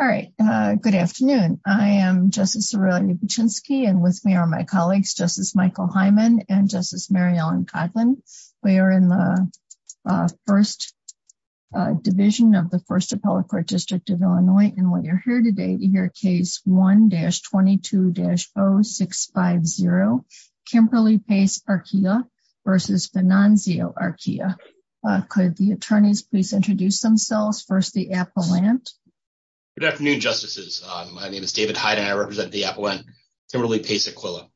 All right, good afternoon. I am Justice Aurelia Buczynski and with me are my colleagues Justice Michael Hyman and Justice Mary Ellen Coughlin. We are in the First Division of the First Appellate Court District of Illinois and we are here today to hear case 1-22-0650, Kimberly Pace-Arquilla v. Venanzio-Arquilla. Could the attorneys please introduce themselves? First, the appellant. Good afternoon, Justices. My name is David Hyde and I represent the appellant, Kimberly Pace-Arquilla.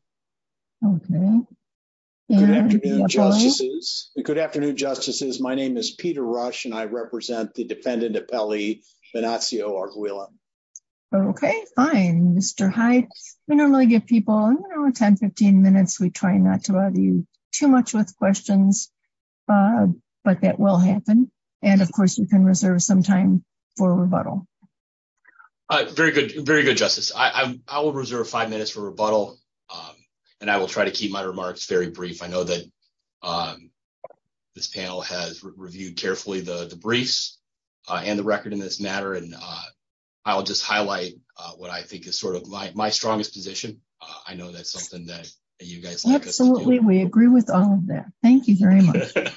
Good afternoon, Justices. My name is Peter Rush and I represent the defendant appellee, Venanzio-Arquilla. Okay, fine. Mr. Hyde, we don't really give people 10-15 minutes. We try not to bother you too much with questions, but that will happen. And of course, you can reserve some time for rebuttal. Very good, very good, Justice. I will reserve five minutes for rebuttal and I will try to keep my remarks very brief. I know that this panel has reviewed carefully the briefs and the record in this matter and I'll just highlight what I think sort of my strongest position. I know that's something that you guys... Absolutely, we agree with all of that. Thank you very much. And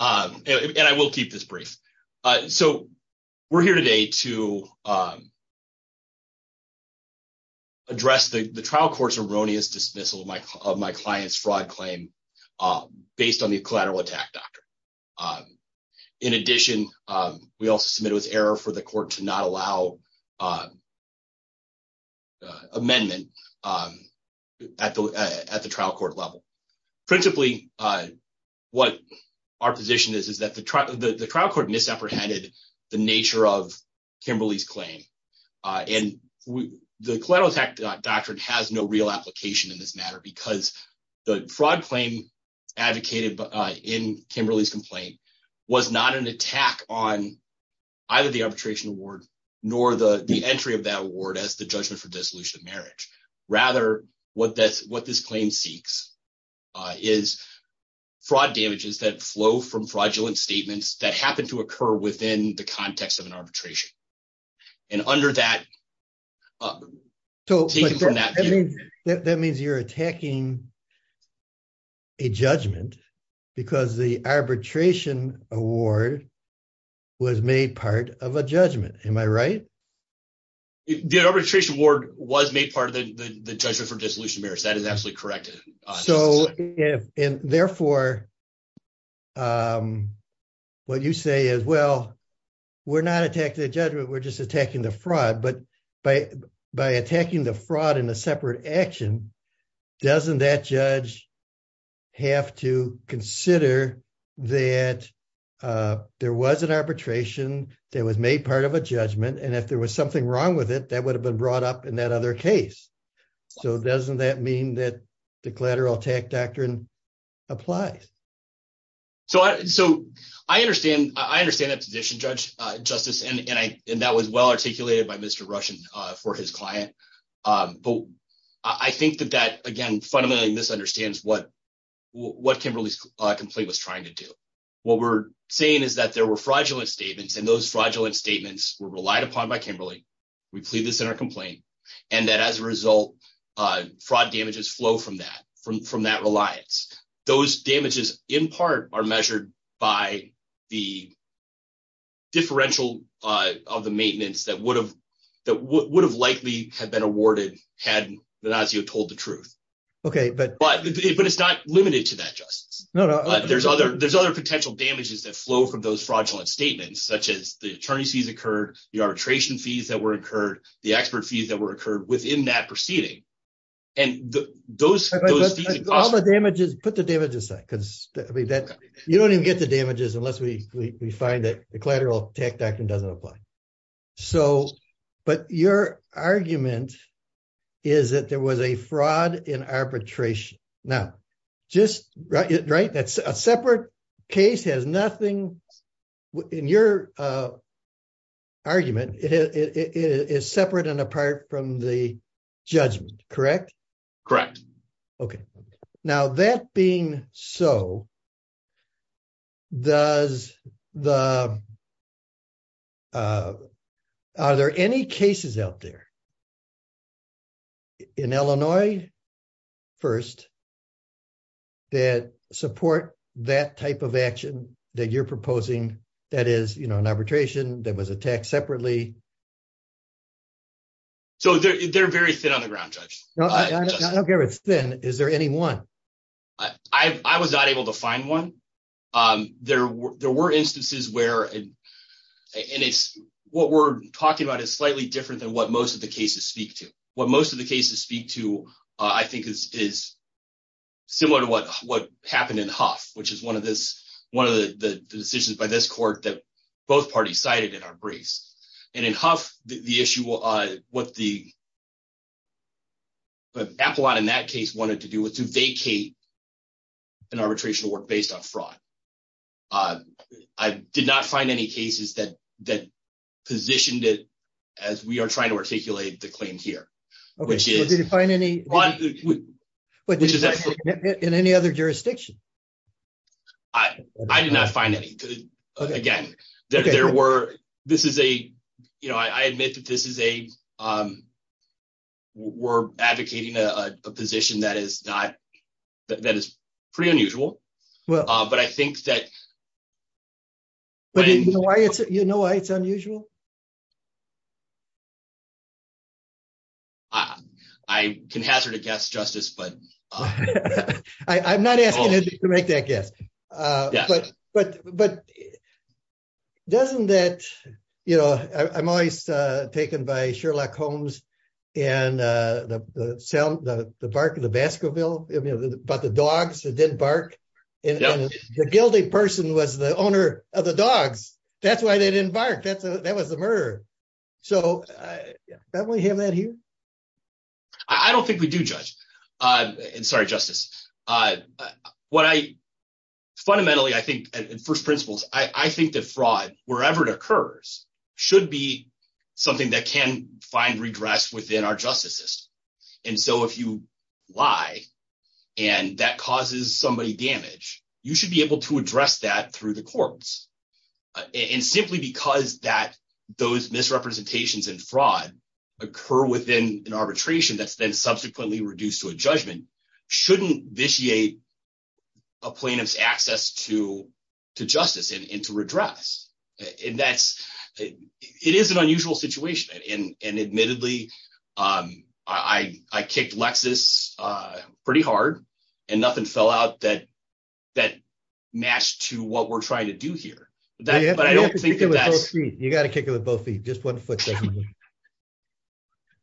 I will keep this brief. So, we're here today to address the trial court's erroneous dismissal of my client's fraud claim based on the collateral attack doctrine. In addition, we also submitted with error for the court to not allow amendment at the trial court level. Principally, what our position is, is that the trial court misapprehended the nature of Kimberly's claim. And the collateral attack doctrine has no real application in this matter because the fraud claim advocated in Kimberly's complaint was not an attack on either the arbitration award nor the entry of that award as the judgment for dissolution of marriage. Rather, what this claim seeks is fraud damages that flow from fraudulent statements that happen to occur within the context of an arbitration. And under that... So, that means you're attacking a judgment because the arbitration award was made part of a judgment. Am I right? The arbitration award was made part of the judgment for dissolution of marriage. That is absolutely correct. So, and therefore, what you say is, well, we're not attacking the judgment, we're just attacking the fraud. But by attacking the fraud in a separate action, doesn't that judge have to consider that there was an arbitration that was made part of a judgment, and if there was something wrong with it, that would have been brought up in that other case. So, doesn't that mean that the collateral attack doctrine applies? So, I understand that position, Justice, and that was well articulated by Mr. Rushen for his client. But I think that that, again, fundamentally misunderstands what Kimberly's complaint was trying to do. What we're saying is that there were fraudulent statements, and those fraudulent statements were relied upon by Kimberly. We plead this in our complaint, and that as a result, fraud damages flow from that, from that reliance. Those damages, in part, are measured by the differential of the maintenance that would have likely had been awarded had Linazio told the truth. But it's not limited to that, Justice. There's other potential damages that flow from those fraudulent statements, such as the attorney's fees occurred, the arbitration fees that were incurred, the expert fees that were incurred within that proceeding. And those... All the damages, put the damages aside, because you don't even get the damages unless we find that the collateral attack doctrine doesn't apply. So, but your argument is that there was a fraud in arbitration. Now, just, right, that's a separate case has nothing, in your argument, it is separate and apart from the judgment, correct? Okay. Now, that being so, does the... Are there any cases out there in Illinois, first, that support that type of action that you're proposing, that is, you know, an arbitration that was attacked separately? So, they're very thin on the ground, Judge. I don't care if it's thin. Is there any one? I was not able to find one. There were instances where, and it's, what we're talking about is slightly different than what most of the cases speak to. What most of the cases speak to, I think, is similar to what happened in Huff, which is one of the decisions by this court that both parties cited in our briefs. And in Huff, the issue, what the... Appelot in that case wanted to do was to vacate an arbitration work based on fraud. I did not find any cases that positioned it as we are trying to articulate the claim here, which is... Did you find any in any other jurisdiction? I did not find any. Again, there were... This is a, you know, I admit that this is a... We're advocating a position that is not... That is pretty unusual, but I think that... You know why it's unusual? I can hazard a guess, Justice, but... I'm not asking you to make that guess. But doesn't that, you know, I'm always taken by Sherlock Holmes and the bark of the Baskerville, but the dogs that didn't bark. The guilty person was the owner of the dogs. That's why they didn't bark. That was the murderer. So definitely have that here. I don't think we do, Judge. And sorry, Justice. What I... Fundamentally, I think in first principles, I think that fraud, wherever it occurs, should be something that can find redress within our justice system. And so if you lie and that causes somebody damage, you should be able to address that through the courts. And simply because that those misrepresentations and fraud occur within an arbitration that's then subsequently reduced to a judgment, shouldn't vitiate a plaintiff's access to justice and to redress. And that's... It is an unusual situation. And admittedly, I kicked Lexus pretty hard and nothing fell out that matched to what we're trying to do here. But I don't think that's... You gotta kick him with both feet. Just one foot.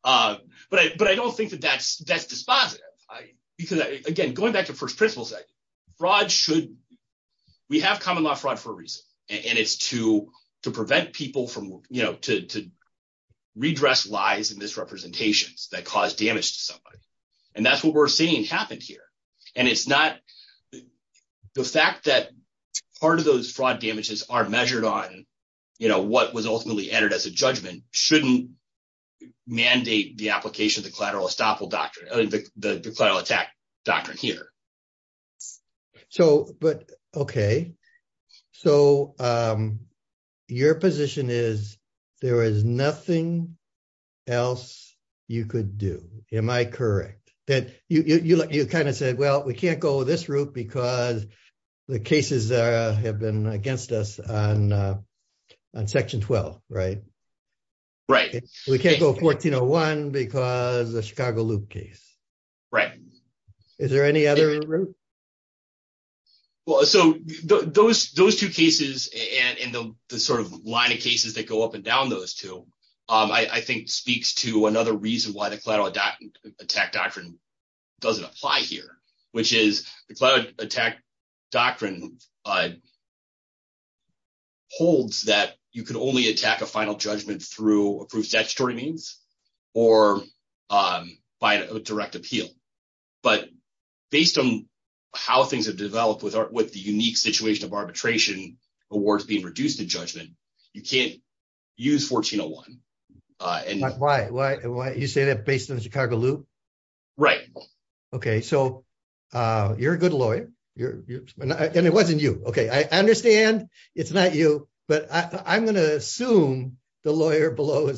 But I don't think that that's dispositive. Because again, going back to first principles, fraud should... We have common law fraud for a reason. And it's to prevent people from, you know, redress lies and misrepresentations that cause damage to somebody. And that's what we're seeing happened here. And it's not... The fact that part of those fraud damages are measured on, you know, what was ultimately entered as a judgment, shouldn't mandate the application of the collateral estoppel doctrine, the collateral attack doctrine here. So, but... Okay. So, your position is, there is nothing else you could do. Am I correct? That you kind of said, well, we can't go this route because the cases have been against us on on section 12, right? Right. We can't go 1401 because the Chicago Loop case. Right. Is there any other route? Well, so those two cases and the sort of line of cases that go up and down those two, I think speaks to another reason why the collateral attack doctrine doesn't apply here, which is the collateral attack doctrine holds that you can only attack a final judgment through approved statutory means or by direct appeal. But based on how things have developed with the unique situation of arbitration awards being reduced in judgment, you can't use 1401. Why? You say that based on the Chicago Loop? Right. Okay. So, you're a good lawyer. And it wasn't you. Okay. I understand it's not you, but I'm going to assume the lawyer below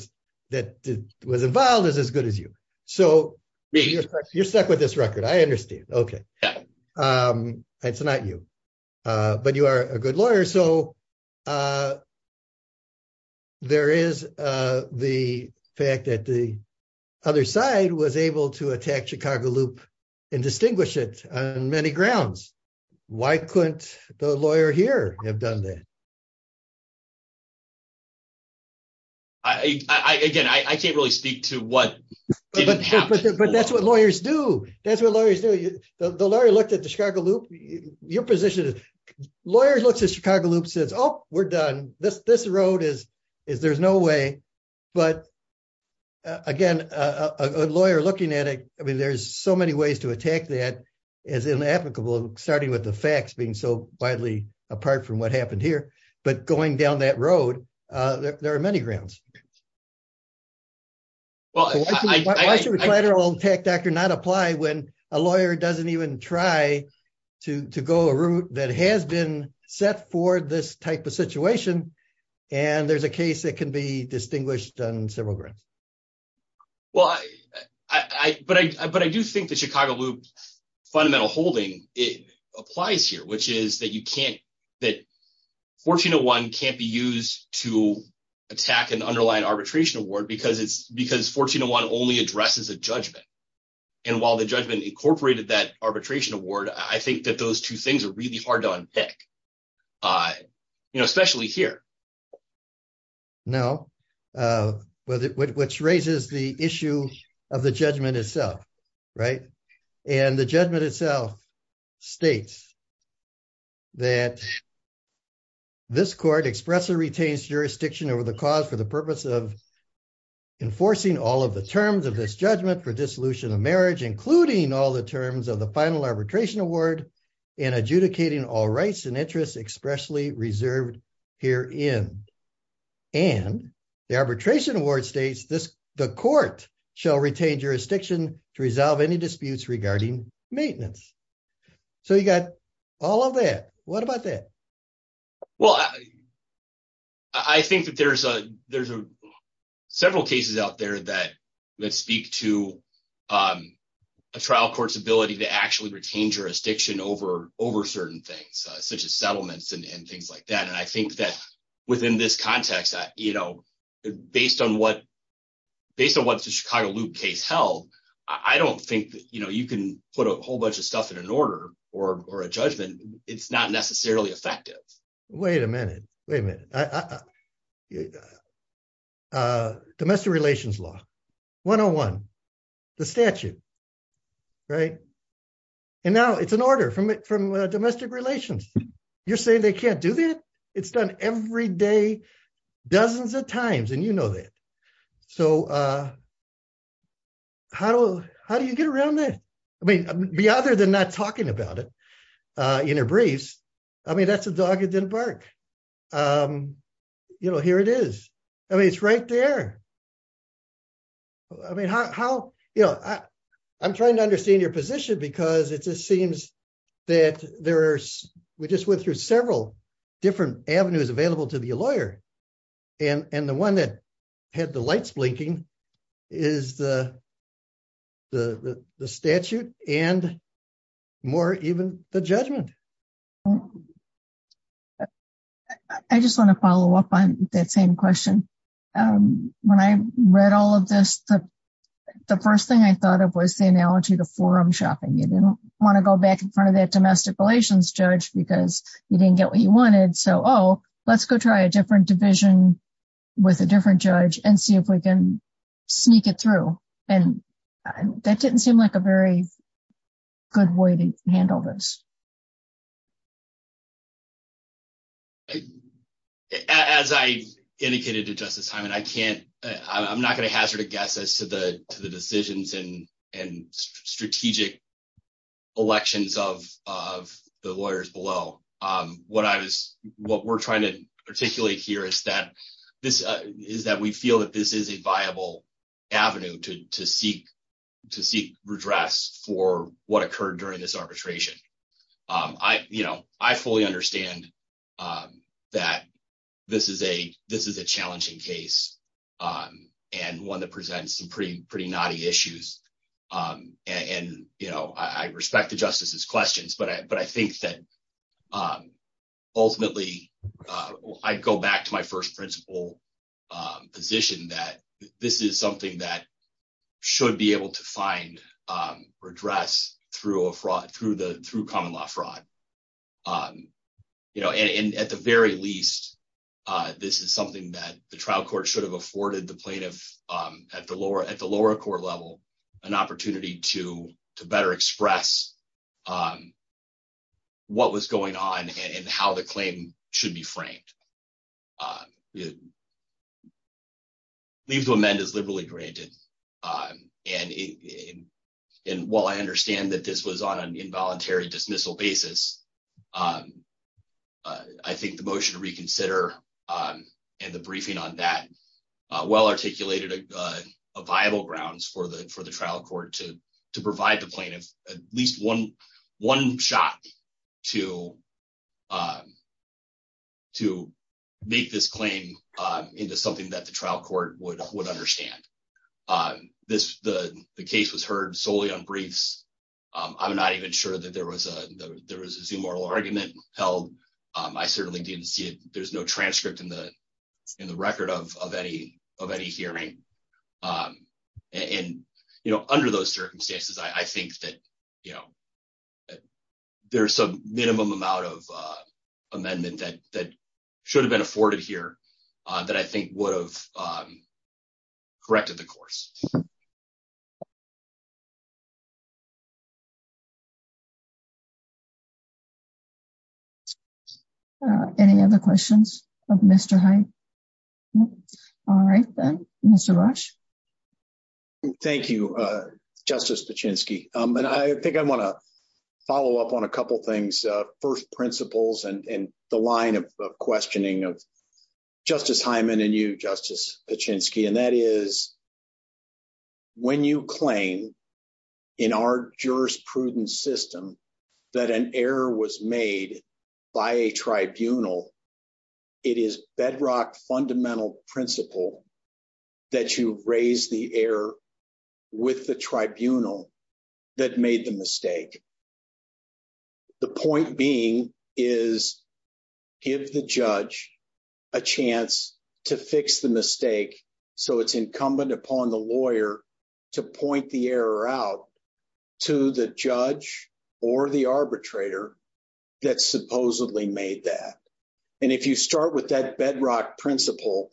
that was involved is as good as you. So, you're stuck with this record. I understand. Okay. It's not you, but you are a good lawyer. So, there is the fact that the other side was able to attack Chicago Loop and distinguish it on many grounds. Why couldn't the lawyer here have done that? Again, I can't really speak to what didn't happen. But that's what lawyers do. That's what lawyers do. The lawyer looked at the Chicago Loop. Your position is lawyers looks at Chicago Loop says, oh, we're done. This road is there's no way. But again, a lawyer looking at it, I mean, so many ways to attack that is inapplicable, starting with the facts being so widely apart from what happened here. But going down that road, there are many grounds. Well, why should a collateral attack doctor not apply when a lawyer doesn't even try to go a route that has been set for this type of situation? And there's a case that can be distinguished on several grounds. Well, but I do think the Chicago Loop fundamental holding it applies here, which is that you can't that 1401 can't be used to attack an underlying arbitration award because it's because 1401 only addresses a judgment. And while the judgment incorporated that arbitration award, I think that those two things are really hard to unpick, especially here. No, but which raises the issue of the judgment itself. Right. And the judgment itself states that this court expressly retains jurisdiction over the cause for the purpose of enforcing all of the terms of this judgment for dissolution of marriage, including all the terms of the final arbitration award and adjudicating all rights and interests expressly reserved herein. And the arbitration award states this, the court shall retain jurisdiction to resolve any disputes regarding maintenance. So you got all of that. What about that? Well, I think that there's several cases out there that speak to a trial court's ability to actually retain jurisdiction over certain things, such as and things like that. And I think that within this context, you know, based on what based on what the Chicago Loop case held, I don't think, you know, you can put a whole bunch of stuff in an order or a judgment. It's not necessarily effective. Wait a minute. Wait a minute. Domestic relations law, 101, the statute. Right. And now it's an order from domestic relations. You're saying they can't do that? It's done every day, dozens of times. And you know that. So how do you get around that? I mean, other than not talking about it in a breeze, I mean, that's a dog that didn't bark. You know, here it is. I mean, it's right there. I mean, how, you know, I'm trying to understand your position because it just seems that there are, we just went through several different avenues available to be a lawyer. And the one that had the lights blinking is the statute and more even the judgment. I just want to follow up on that same question. When I read all of this, the first thing I thought of was the analogy to forum shopping. You didn't want to go back in front of that domestic relations judge because you didn't get what you wanted. So, oh, let's go try a different division with a different judge and see if we can sneak it through. And that didn't seem like a very good way to handle this. As I indicated to Justice Hyman, I can't, I'm not going to hazard a guess to the decisions and strategic elections of the lawyers below. What I was, what we're trying to articulate here is that we feel that this is a viable avenue to seek redress for what occurred during this arbitration. I, you know, I fully understand that this is a challenging case and one that presents some pretty knotty issues. And, you know, I respect the justice's questions, but I think that ultimately I'd go back to my first principle position that this is something that should be able to find redress through a fraud, through common law fraud. You know, at the very least, this is something that the trial court should have afforded the plaintiff at the lower court level, an opportunity to better express what was going on and how the claim should be framed. Leave to amend is liberally granted. And while I understand that this was on an involuntary dismissal basis, I think the motion to reconsider and the briefing on that well articulated viable grounds for the trial court to provide the plaintiff at least one shot to make this claim into something that the trial court would understand. On this, the case was heard solely on briefs. I'm not even sure that there was a, there was a zoom oral argument held. I certainly didn't see it. There's no transcript in the, in the record of, of any, of any hearing. And, you know, under those circumstances, I think that, you know, there's some minimum amount of amendment that, that should have been afforded here that I think would have corrected the course. Any other questions of Mr. Hyde? All right then, Mr. Rush. Thank you, Justice Pachinski. And I think I want to follow up on a couple of things. First, in the line of questioning of Justice Hyman and you, Justice Pachinski, and that is when you claim in our jurisprudence system that an error was made by a tribunal, it is bedrock fundamental principle that you raise the error with the tribunal that made the mistake. The point being is give the judge a chance to fix the mistake so it's incumbent upon the lawyer to point the error out to the judge or the arbitrator that supposedly made that. And if you start with that bedrock principle,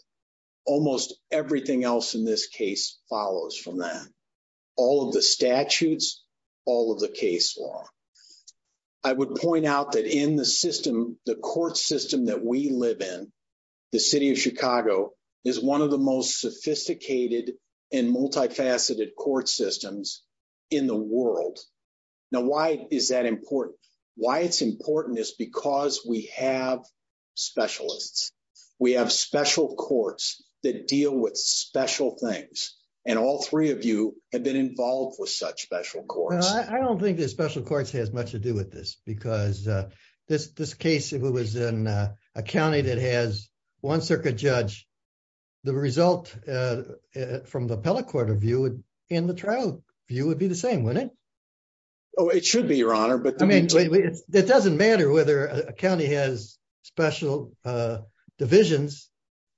almost everything else in this case follows from that. All of the statutes, all of the case law. I would point out that in the system, the court system that we live in, the city of Chicago is one of the most sophisticated and multifaceted court systems in the world. Now, why is that important? Why it's important is because we have specialists. We have special courts that deal with special things. And all three of you have been involved with such special courts. Well, I don't think the special courts has much to do with this, because this case, if it was in a county that has one circuit judge, the result from the appellate court of view in the trial view would be the same, wouldn't it? Oh, it should be, your honor. But I mean, it doesn't matter whether a county has special divisions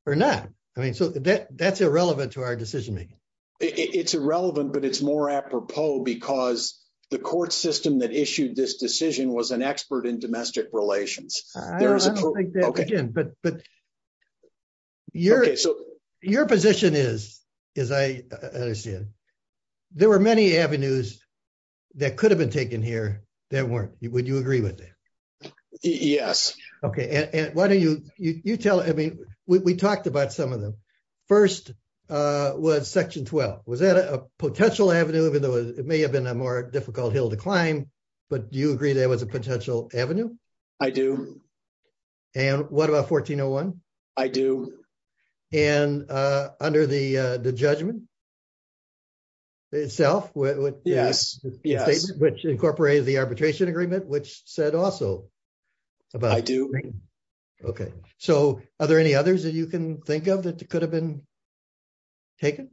or not. I mean, so that's irrelevant to our decision-making. It's irrelevant, but it's more apropos because the court system that issued this decision was an expert in domestic relations. I don't like that, but your position is, as I understand, there were many avenues that could have been taken here that weren't. Would you agree with that? Yes. Okay. And why don't you tell, I mean, we talked about some of them. First was section 12. Was that a potential avenue, even though it may have been a more difficult hill to climb, but do you agree there was a potential avenue? I do. And what about 1401? I do. And under the judgment itself, which incorporated the arbitration agreement, which said also about- I do. Okay. So are there any others that you can think of that could have been taken?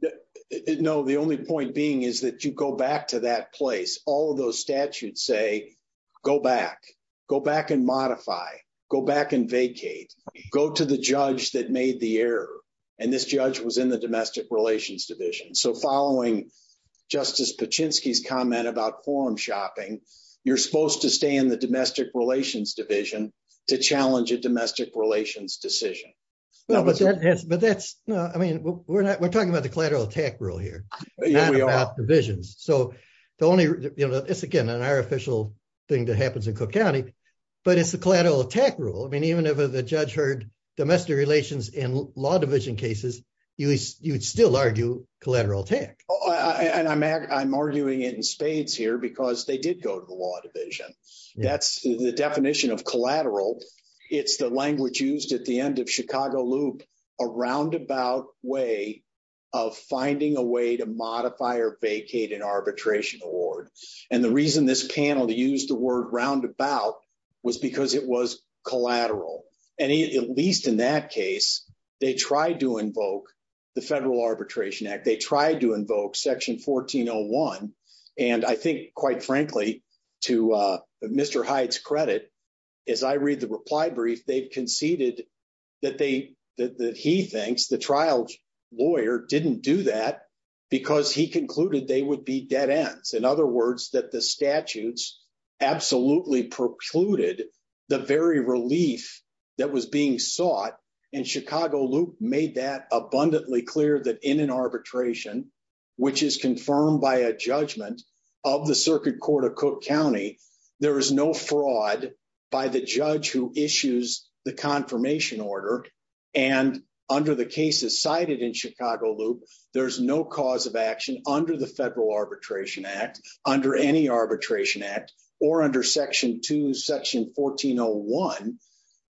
No. The only point being is that you go back to that place. All of those statutes say, go back, go back and modify, go back and vacate, go to the judge that made the error. And this judge was in the domestic relations division. So following Justice Paczynski's comment about forum shopping, you're supposed to stay in the domestic relations division to challenge a domestic relations decision. But that's, I mean, we're talking about the collateral attack rule here, not about divisions. So the only, it's, again, an unofficial thing that happens in Cook County, but it's the collateral attack rule. I mean, even if the judge heard domestic relations in law division cases, you'd still argue collateral attack. And I'm arguing it in spades here because they did go to the law division. That's the definition of collateral. It's the language used at the end of Chicago Loop, a roundabout way of finding a way to modify or vacate an arbitration award. And the reason this panel used the word roundabout was because it was collateral. And at least in that case, they tried to invoke the Federal Arbitration Act. They tried to invoke section 1401. And I think, quite frankly, to Mr. Hyde's credit, as I read the reply brief, they've conceded that they, that he thinks, the trial lawyer didn't do that because he concluded they would be dead ends. In other words, that the statutes absolutely precluded the very relief that was being sought. And Chicago Loop made that abundantly clear that in an arbitration, which is confirmed by a judgment of the Circuit Court of Cook County, there is no fraud by the judge who issues the confirmation order. And under the cases cited in Chicago Loop, there's no cause of action under the Federal Arbitration Act, under any arbitration act, or under section two, section 1401,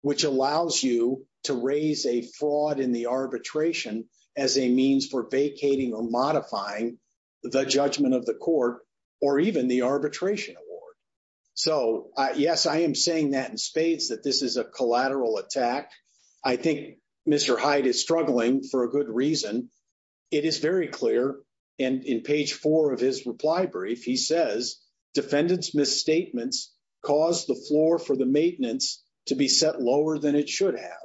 which allows you to raise a fraud in the arbitration as a means for vacating or modifying the judgment of the court, or even the arbitration award. So yes, I am saying that in spades, that this is a collateral attack. I think Mr. Hyde is struggling for a good reason. It is very clear. And in page four of his reply brief, he says, defendants' misstatements caused the floor for the maintenance to be set lower than it should have.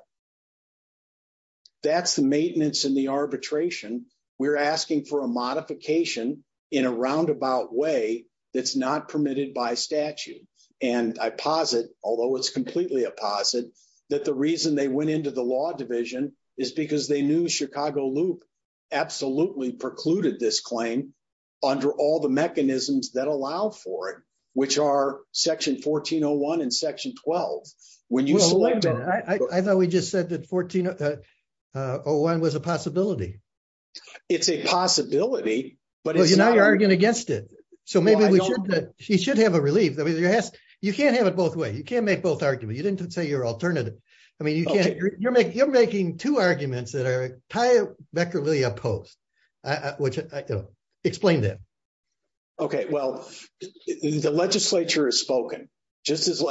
That's the maintenance in the arbitration. We're asking for a modification in a roundabout way that's not permitted by statute. And I posit, although it's completely a posit, that the reason they went into the law division is because they knew Chicago Loop absolutely precluded this claim under all the mechanisms that allow for it, which are section 1401 and section 12. When you select- Well, wait a minute. I thought we just said that 1401 was a possibility. It's a possibility, but it's- Well, now you're arguing against it. So maybe we should- Well, I don't- You should have a relief. I mean, you can't have it both ways. You can't make both arguments. You didn't say you're alternative. I mean, you're making two arguments that are effectively opposed, which I don't know. Explain that. Okay. Well, the legislature has spoken. Just as they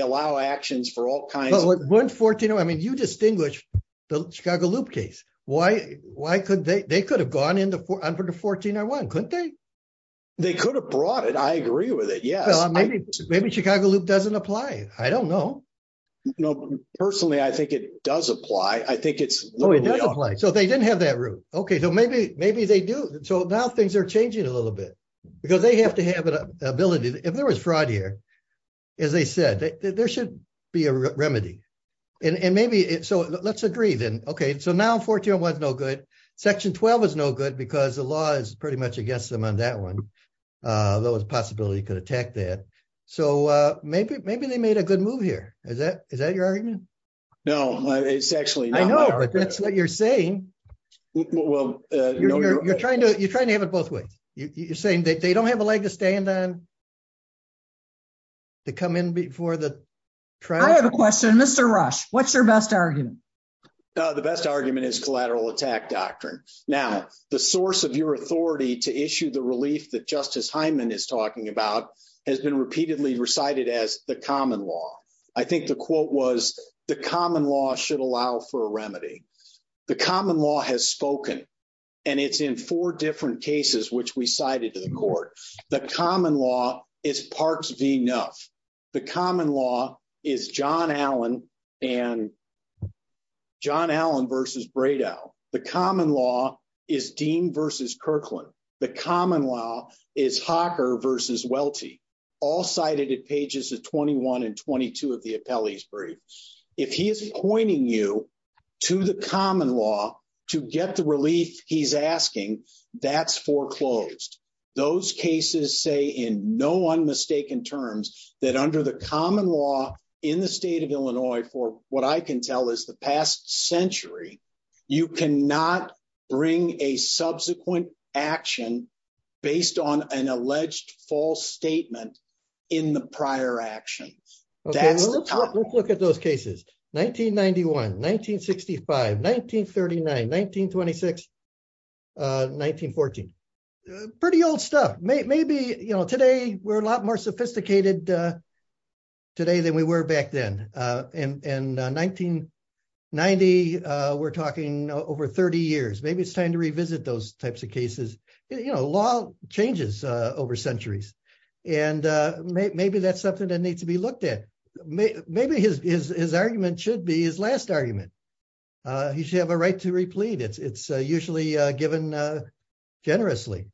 allow actions for all kinds of- Well, but 1401, I mean, you distinguish the Chicago Loop case. Why could they? They could have gone under the 1401, couldn't they? They could have brought it. I agree with it. Yes. Well, maybe Chicago Loop doesn't apply. I don't know. No, personally, I think it does apply. I think it's- It does apply. So they didn't have that route. Okay. So maybe they do. So now things are changing a little bit because they have to have an ability. If there was fraud here, as they said, there should be a remedy. So let's agree then. Okay. So now 1401 is no good. Section 12 is no good because the law is pretty much against them on that one. There was a possibility you could attack that. So maybe they made a good move here. Is that your argument? No, it's actually not my argument. I know, but that's what you're saying. Well, no, you're- You're trying to have it both ways. You're saying that they don't have a leg to stand on to come in before the trial- I have a question. Mr. Rush, what's your best argument? The best argument is collateral attack doctrine. Now, the source of your authority to issue the relief that Justice Hyman is talking about has been repeatedly recited as the common law. I think the quote was, the common law should allow for a remedy. The common law has spoken, and it's in four different cases, which we cited to the court. The common law is Parks v. Nuff. The common law is John Allen and John Allen versus Bredow. The common law is Dean versus Kirkland. The common law is Hocker versus Welty, all cited at pages 21 and 22 of the appellee's brief. If he is pointing you to the common law to get the relief he's asking, that's foreclosed. Those cases say in no unmistaken terms that under the common law in the state of Illinois for what I can tell is the past century, you cannot bring a subsequent action based on an alleged false statement in the prior actions. Let's look at those cases. 1991, 1965, 1939, 1926, 1914. Pretty old stuff. Today, we're a lot more sophisticated today than we were back then. In 1990, we're talking over 30 years. Maybe it's time to revisit those types of cases. Law changes over centuries. Maybe that's something that needs to be looked at. Maybe his argument should be his last argument. He should have a right to replead. It's usually given generously.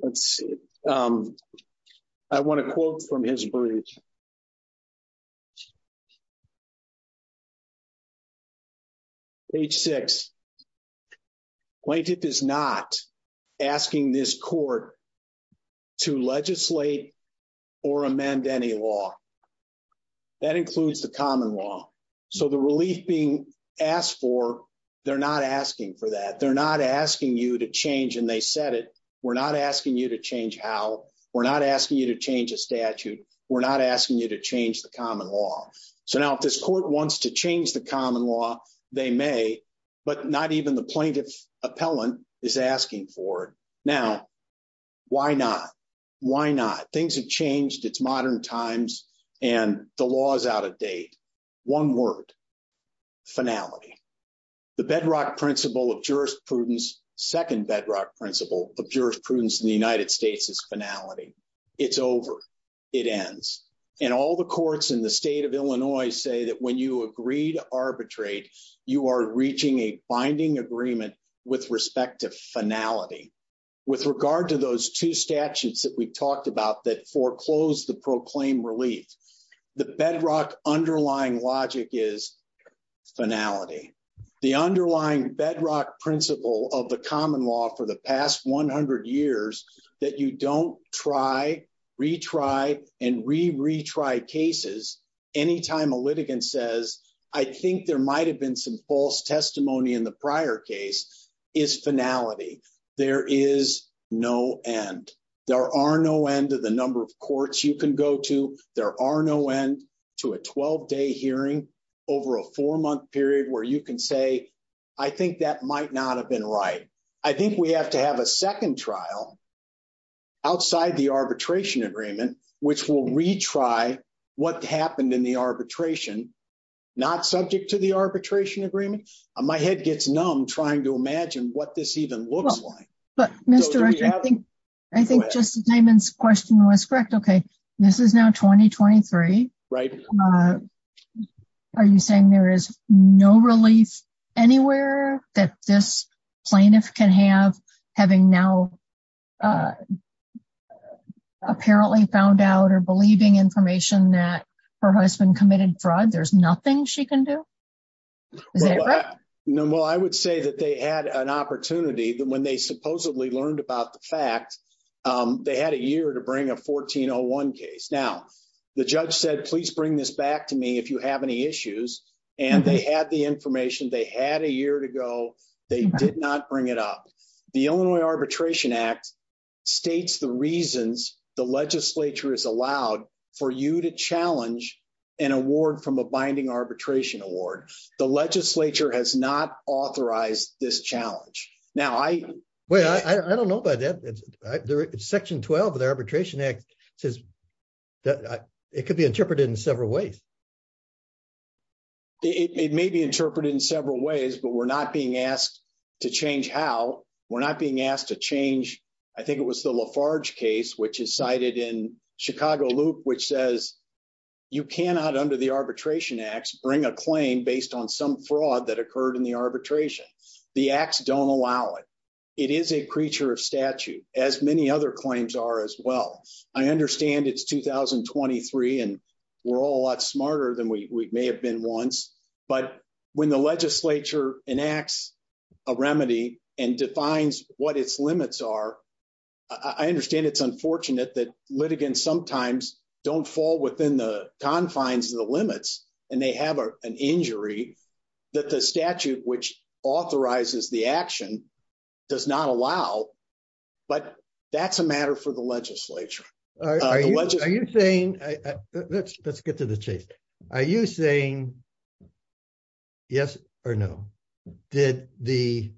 Let's see. I want a quote from his brief. Page six. Quaintip is not asking this court to legislate or amend any law. That includes the common law. The relief being asked for, they're not asking for that. They're not asking you to change and they said it. We're not asking you to change how. We're not asking you to change a statute. We're not asking you to change the common law. So now, if this court wants to change the common law, they may, but not even the plaintiff appellant is asking for it. Now, why not? Why not? Things have changed. It's modern times and the law is out of date. One word, finality. The bedrock principle of jurisprudence, second bedrock principle of jurisprudence in the it ends. And all the courts in the state of Illinois say that when you agree to arbitrate, you are reaching a binding agreement with respect to finality. With regard to those two statutes that we've talked about that foreclosed the proclaimed relief, the bedrock underlying logic is finality. The underlying bedrock principle of the common law for the past 100 years that you don't try, retry and re retry cases. Anytime a litigant says, I think there might have been some false testimony in the prior case is finality. There is no end. There are no end of the number of courts you can go to. There are no end to a 12 day hearing over a four month period where you can say, I think that might not have been right. I think we have to have a second trial outside the arbitration agreement, which will retry what happened in the arbitration, not subject to the arbitration agreement. My head gets numb trying to imagine what this even looks like. But Mr. I think, I think Justin Timon's question was correct. Okay. This is now 2023. Right. Are you saying there is no relief anywhere that this plaintiff can have having now uh, apparently found out or believing information that her husband committed fraud, there's nothing she can do? Is that right? No. Well, I would say that they had an opportunity that when they supposedly learned about the fact, um, they had a year to bring a 1401 case. Now the judge said, please bring this back to me if you have any issues and they had the information they had a they did not bring it up. The Illinois arbitration act states the reasons the legislature is allowed for you to challenge an award from a binding arbitration award. The legislature has not authorized this challenge. Now I, well, I don't know about that. It's section 12 of the arbitration act says that it could be interpreted in several ways. It may be interpreted in several ways, but we're not being asked to change how we're not being asked to change. I think it was the Lafarge case, which is cited in Chicago loop, which says you cannot under the arbitration acts bring a claim based on some fraud that occurred in the arbitration. The acts don't allow it. It is a creature of statute as many other claims are as well. I understand it's 2023 and we're all a lot smarter than we may have been once. But when the legislature enacts a remedy and defines what its limits are, I understand it's unfortunate that litigants sometimes don't fall within the confines of the limits and they have an injury that the statute, which authorizes the action does not allow, but that's a matter for the legislature. All right. Are you saying let's, let's get to the chase. Are you saying yes or no? Did the,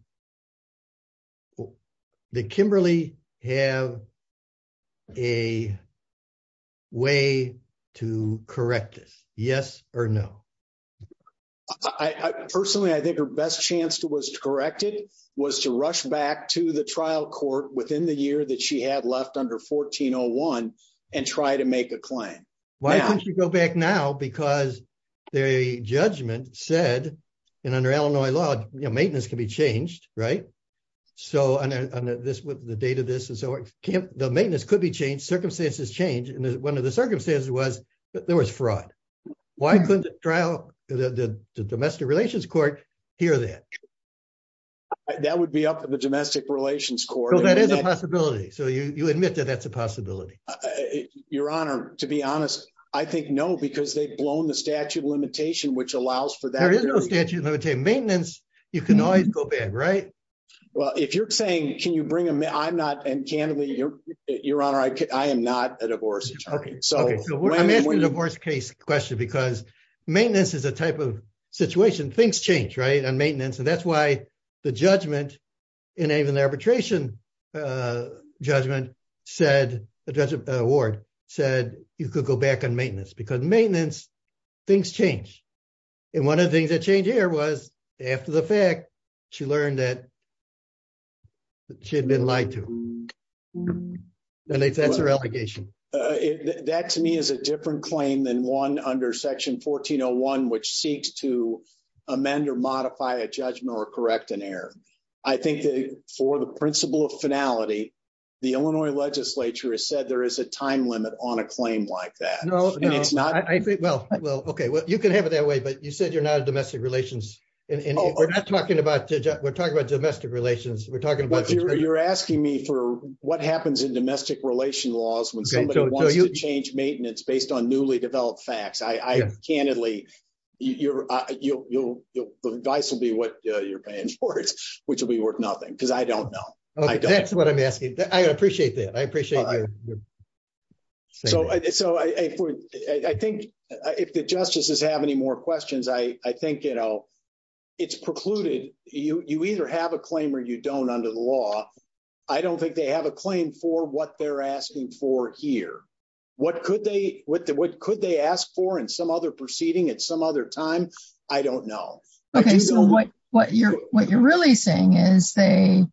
the Kimberly have a way to correct this? Yes or no. I personally, I think her best chance to was corrected was to rush back to the trial court within the year that she had left under 1401 and try to make a claim. Why don't you go back now? Because the judgment said, and under Illinois law, you know, maintenance can be changed, right? So on this with the date of this, and so the maintenance could be changed. Circumstances change. And one of the circumstances was that there was fraud. Why couldn't the trial, the domestic relations court hear that? That would be up to the domestic relations court. That is a possibility. So you, you admit that that's a possibility. Your honor, to be honest, I think no, because they've blown the statute of limitation, which allows for that. There is no statute of limitation maintenance. You can always go back. Right. Well, if you're saying, can you bring them? I'm not. And candidly, your, your honor, I could, I am not a divorce. Okay. So when I'm asking the divorce case question, because maintenance is a type of situation, things change, right? And maintenance. And that's why the judgment. And even the arbitration judgment said, the judge, the ward said, you could go back on maintenance because maintenance things change. And one of the things that changed here was after the fact, she learned that she had been lied to. And that's her allegation. That to me is a different claim than one under section 1401, which seeks to amend or modify a judgment or correct an error. I think that for the principle of finality, the Illinois legislature has said there is a time limit on a claim like that. Well, okay. Well, you can have it that way, but you said you're not a domestic relations. And we're not talking about, we're talking about domestic relations. We're talking about, you're asking me for what happens in domestic relation laws when somebody wants to change maintenance based on newly developed facts. I candidly, the advice will be what you're paying for it, which will be worth nothing. Because I don't know. That's what I'm asking. I appreciate that. I appreciate that. So I think if the justices have any more questions, I think it's precluded. You either have a claim or you don't under the law. I don't think they have a for what they're asking for here. What could they ask for in some other proceeding at some other time? I don't know. Okay. So what you're really saying is they,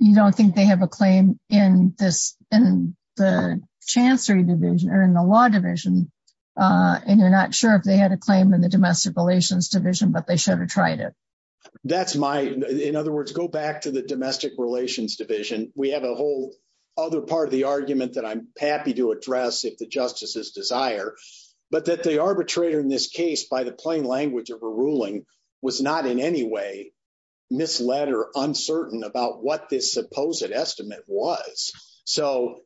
you don't think they have a claim in the chancery division or in the law division. And you're not sure if they had a claim in the domestic relations division, but they should have tried it. That's my, in other words, go back to the domestic relations division. We have a whole other part of the argument that I'm happy to address if the justices desire, but that the arbitrator in this case, by the plain language of a ruling was not in any way misled or uncertain about what this supposed estimate was. So,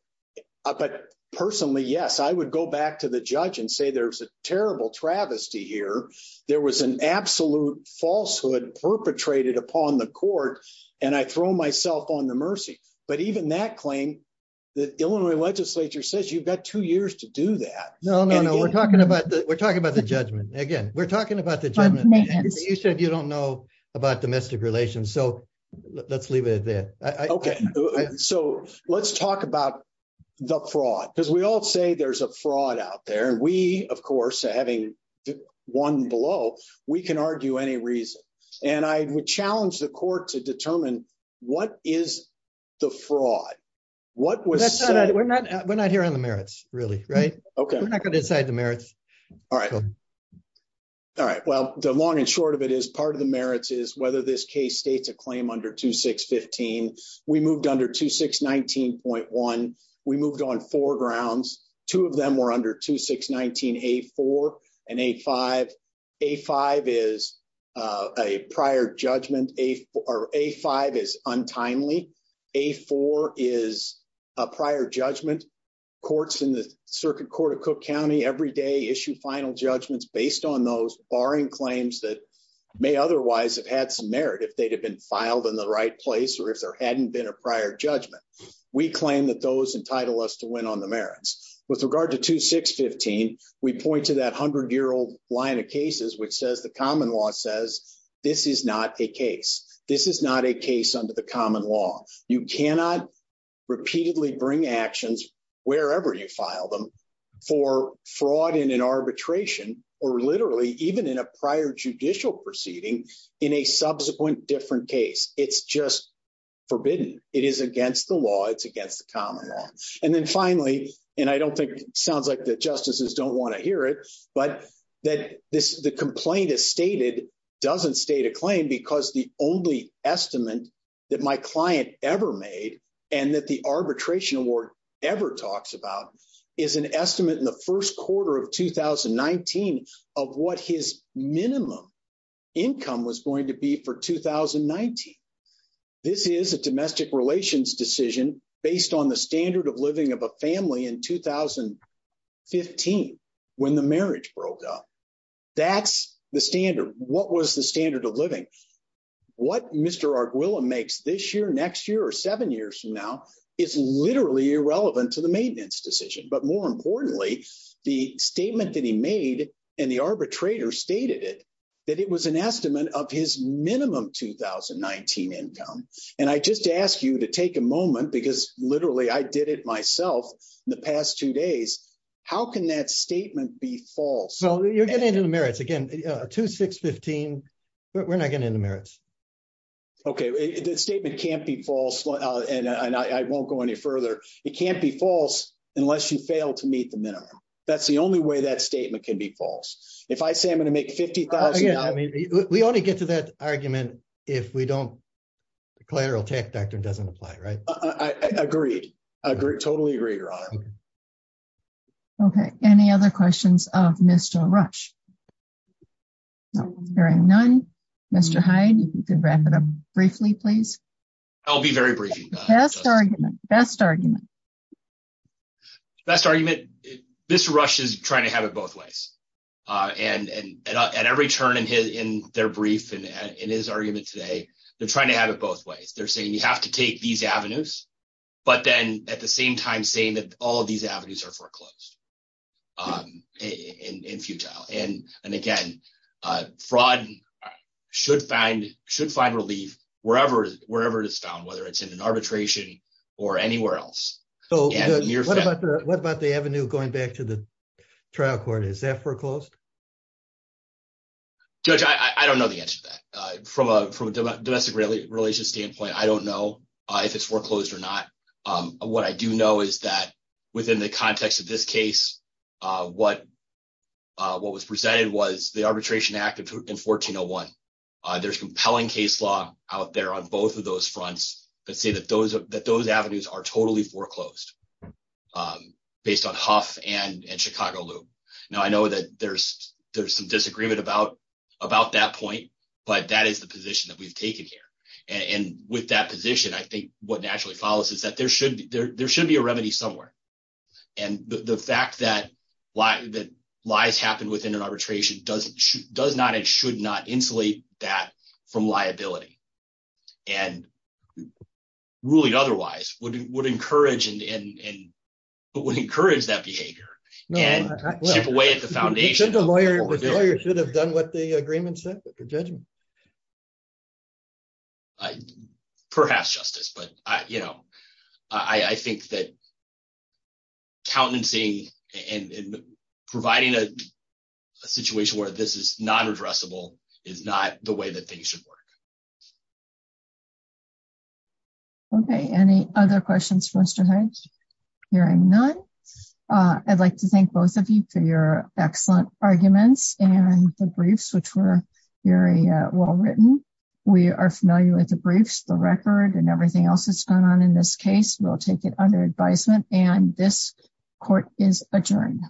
but personally, yes, I would go back to the judge and say, there's a terrible travesty here. There was an absolute falsehood perpetrated upon the court and I throw myself on the mercy, but even that claim, the Illinois legislature says you've got two years to do that. No, no, no. We're talking about the, we're talking about the judgment. Again, we're talking about the judgment. You said you don't know about domestic relations. So let's leave it at that. Okay. So let's talk about the fraud because we all say there's a fraud out there. And we, of course, having won below, we can argue any reason. And I would challenge the court to determine what is the fraud? What was said? We're not, we're not here on the merits really. Right. Okay. We're not going to decide the merits. All right. All right. Well, the long and short of it is part of the merits is whether this case states a claim under 2615, we moved under 2619.1. We moved on four grounds. Two of them were under 2619A4 and A5. A5 is a prior judgment. A5 is untimely. A4 is a prior judgment. Courts in the circuit court of Cook County every day issue final judgments based on those barring claims that may otherwise have had some merit if they'd have been filed in the right place or if there hadn't been a prior judgment. We claim that those entitle us to win on the merits. With regard to 2615, we point to that hundred-year-old line of cases, which says the common law says, this is not a case. This is not a case under the common law. You cannot repeatedly bring actions wherever you file them for fraud in an arbitration, or literally, even in a prior judicial proceeding in a subsequent different case. It's just forbidden. It is against the law. It's against the common law. And then finally, and I don't think it sounds like the justices don't want to hear it, but that the complaint is stated doesn't state a claim because the only estimate that my client ever made and that the arbitration award ever talks about is an estimate in the first quarter of 2019 of what his minimum income was going to be for 2019. This is a domestic relations decision based on the standard of living of a family in 2015 when the marriage broke up. That's the standard. What was the standard of the maintenance decision? But more importantly, the statement that he made and the arbitrator stated it, that it was an estimate of his minimum 2019 income. And I just ask you to take a moment because literally I did it myself in the past two days. How can that statement be false? So you're getting into the merits again, 2615. We're not getting into merits. Okay. The statement can't be false and I won't go any further. It can't be false unless you fail to meet the minimum. That's the only way that statement can be false. If I say I'm going to make $50,000. We only get to that argument if we don't, the collateral tech doctrine doesn't apply, right? I agree. I agree. Totally agree, Your Honor. Okay. Any other questions of Mr. Rush? No. Hearing none, Mr. Hyde, if you could wrap it up briefly, please. I'll be very brief. Best argument. Best argument. Best argument. Mr. Rush is trying to have it both ways. And at every turn in their brief and in his argument today, they're trying to have it both ways. They're saying you have to take these avenues, but then at the same time saying that all of these avenues are foreclosed and futile. And again, fraud should find relief wherever it is found, whether it's in an arbitration or anywhere else. What about the avenue going back to the trial court? Is that foreclosed? Judge, I don't know the answer to that. From a domestic relations standpoint, I don't know if it's foreclosed or not. What I do know is that within the context of this case, what was presented was the Arbitration Act of 1401. There's compelling case law out there on both of those fronts that say that those avenues are totally foreclosed based on Huff and Chicago Lube. Now, I know that there's some disagreement about that point, but that is the position that you've taken here. And with that position, I think what naturally follows is that there should be a remedy somewhere. And the fact that lies happen within an arbitration does not and should not insulate that from liability. And ruling otherwise would encourage that behavior and chip away at the foundation. The lawyer should have done what the agreement said, the judgment. Perhaps justice, but I think that countenancy and providing a situation where this is non-addressable is not the way that things should work. Okay, any other questions for Mr. Hines? Hearing none, I'd like to thank both of you for your excellent arguments and the briefs, which were very well written. We are familiar with the briefs, the record, and everything else that's gone on in this case. We'll take it under advisement. And this court is adjourned.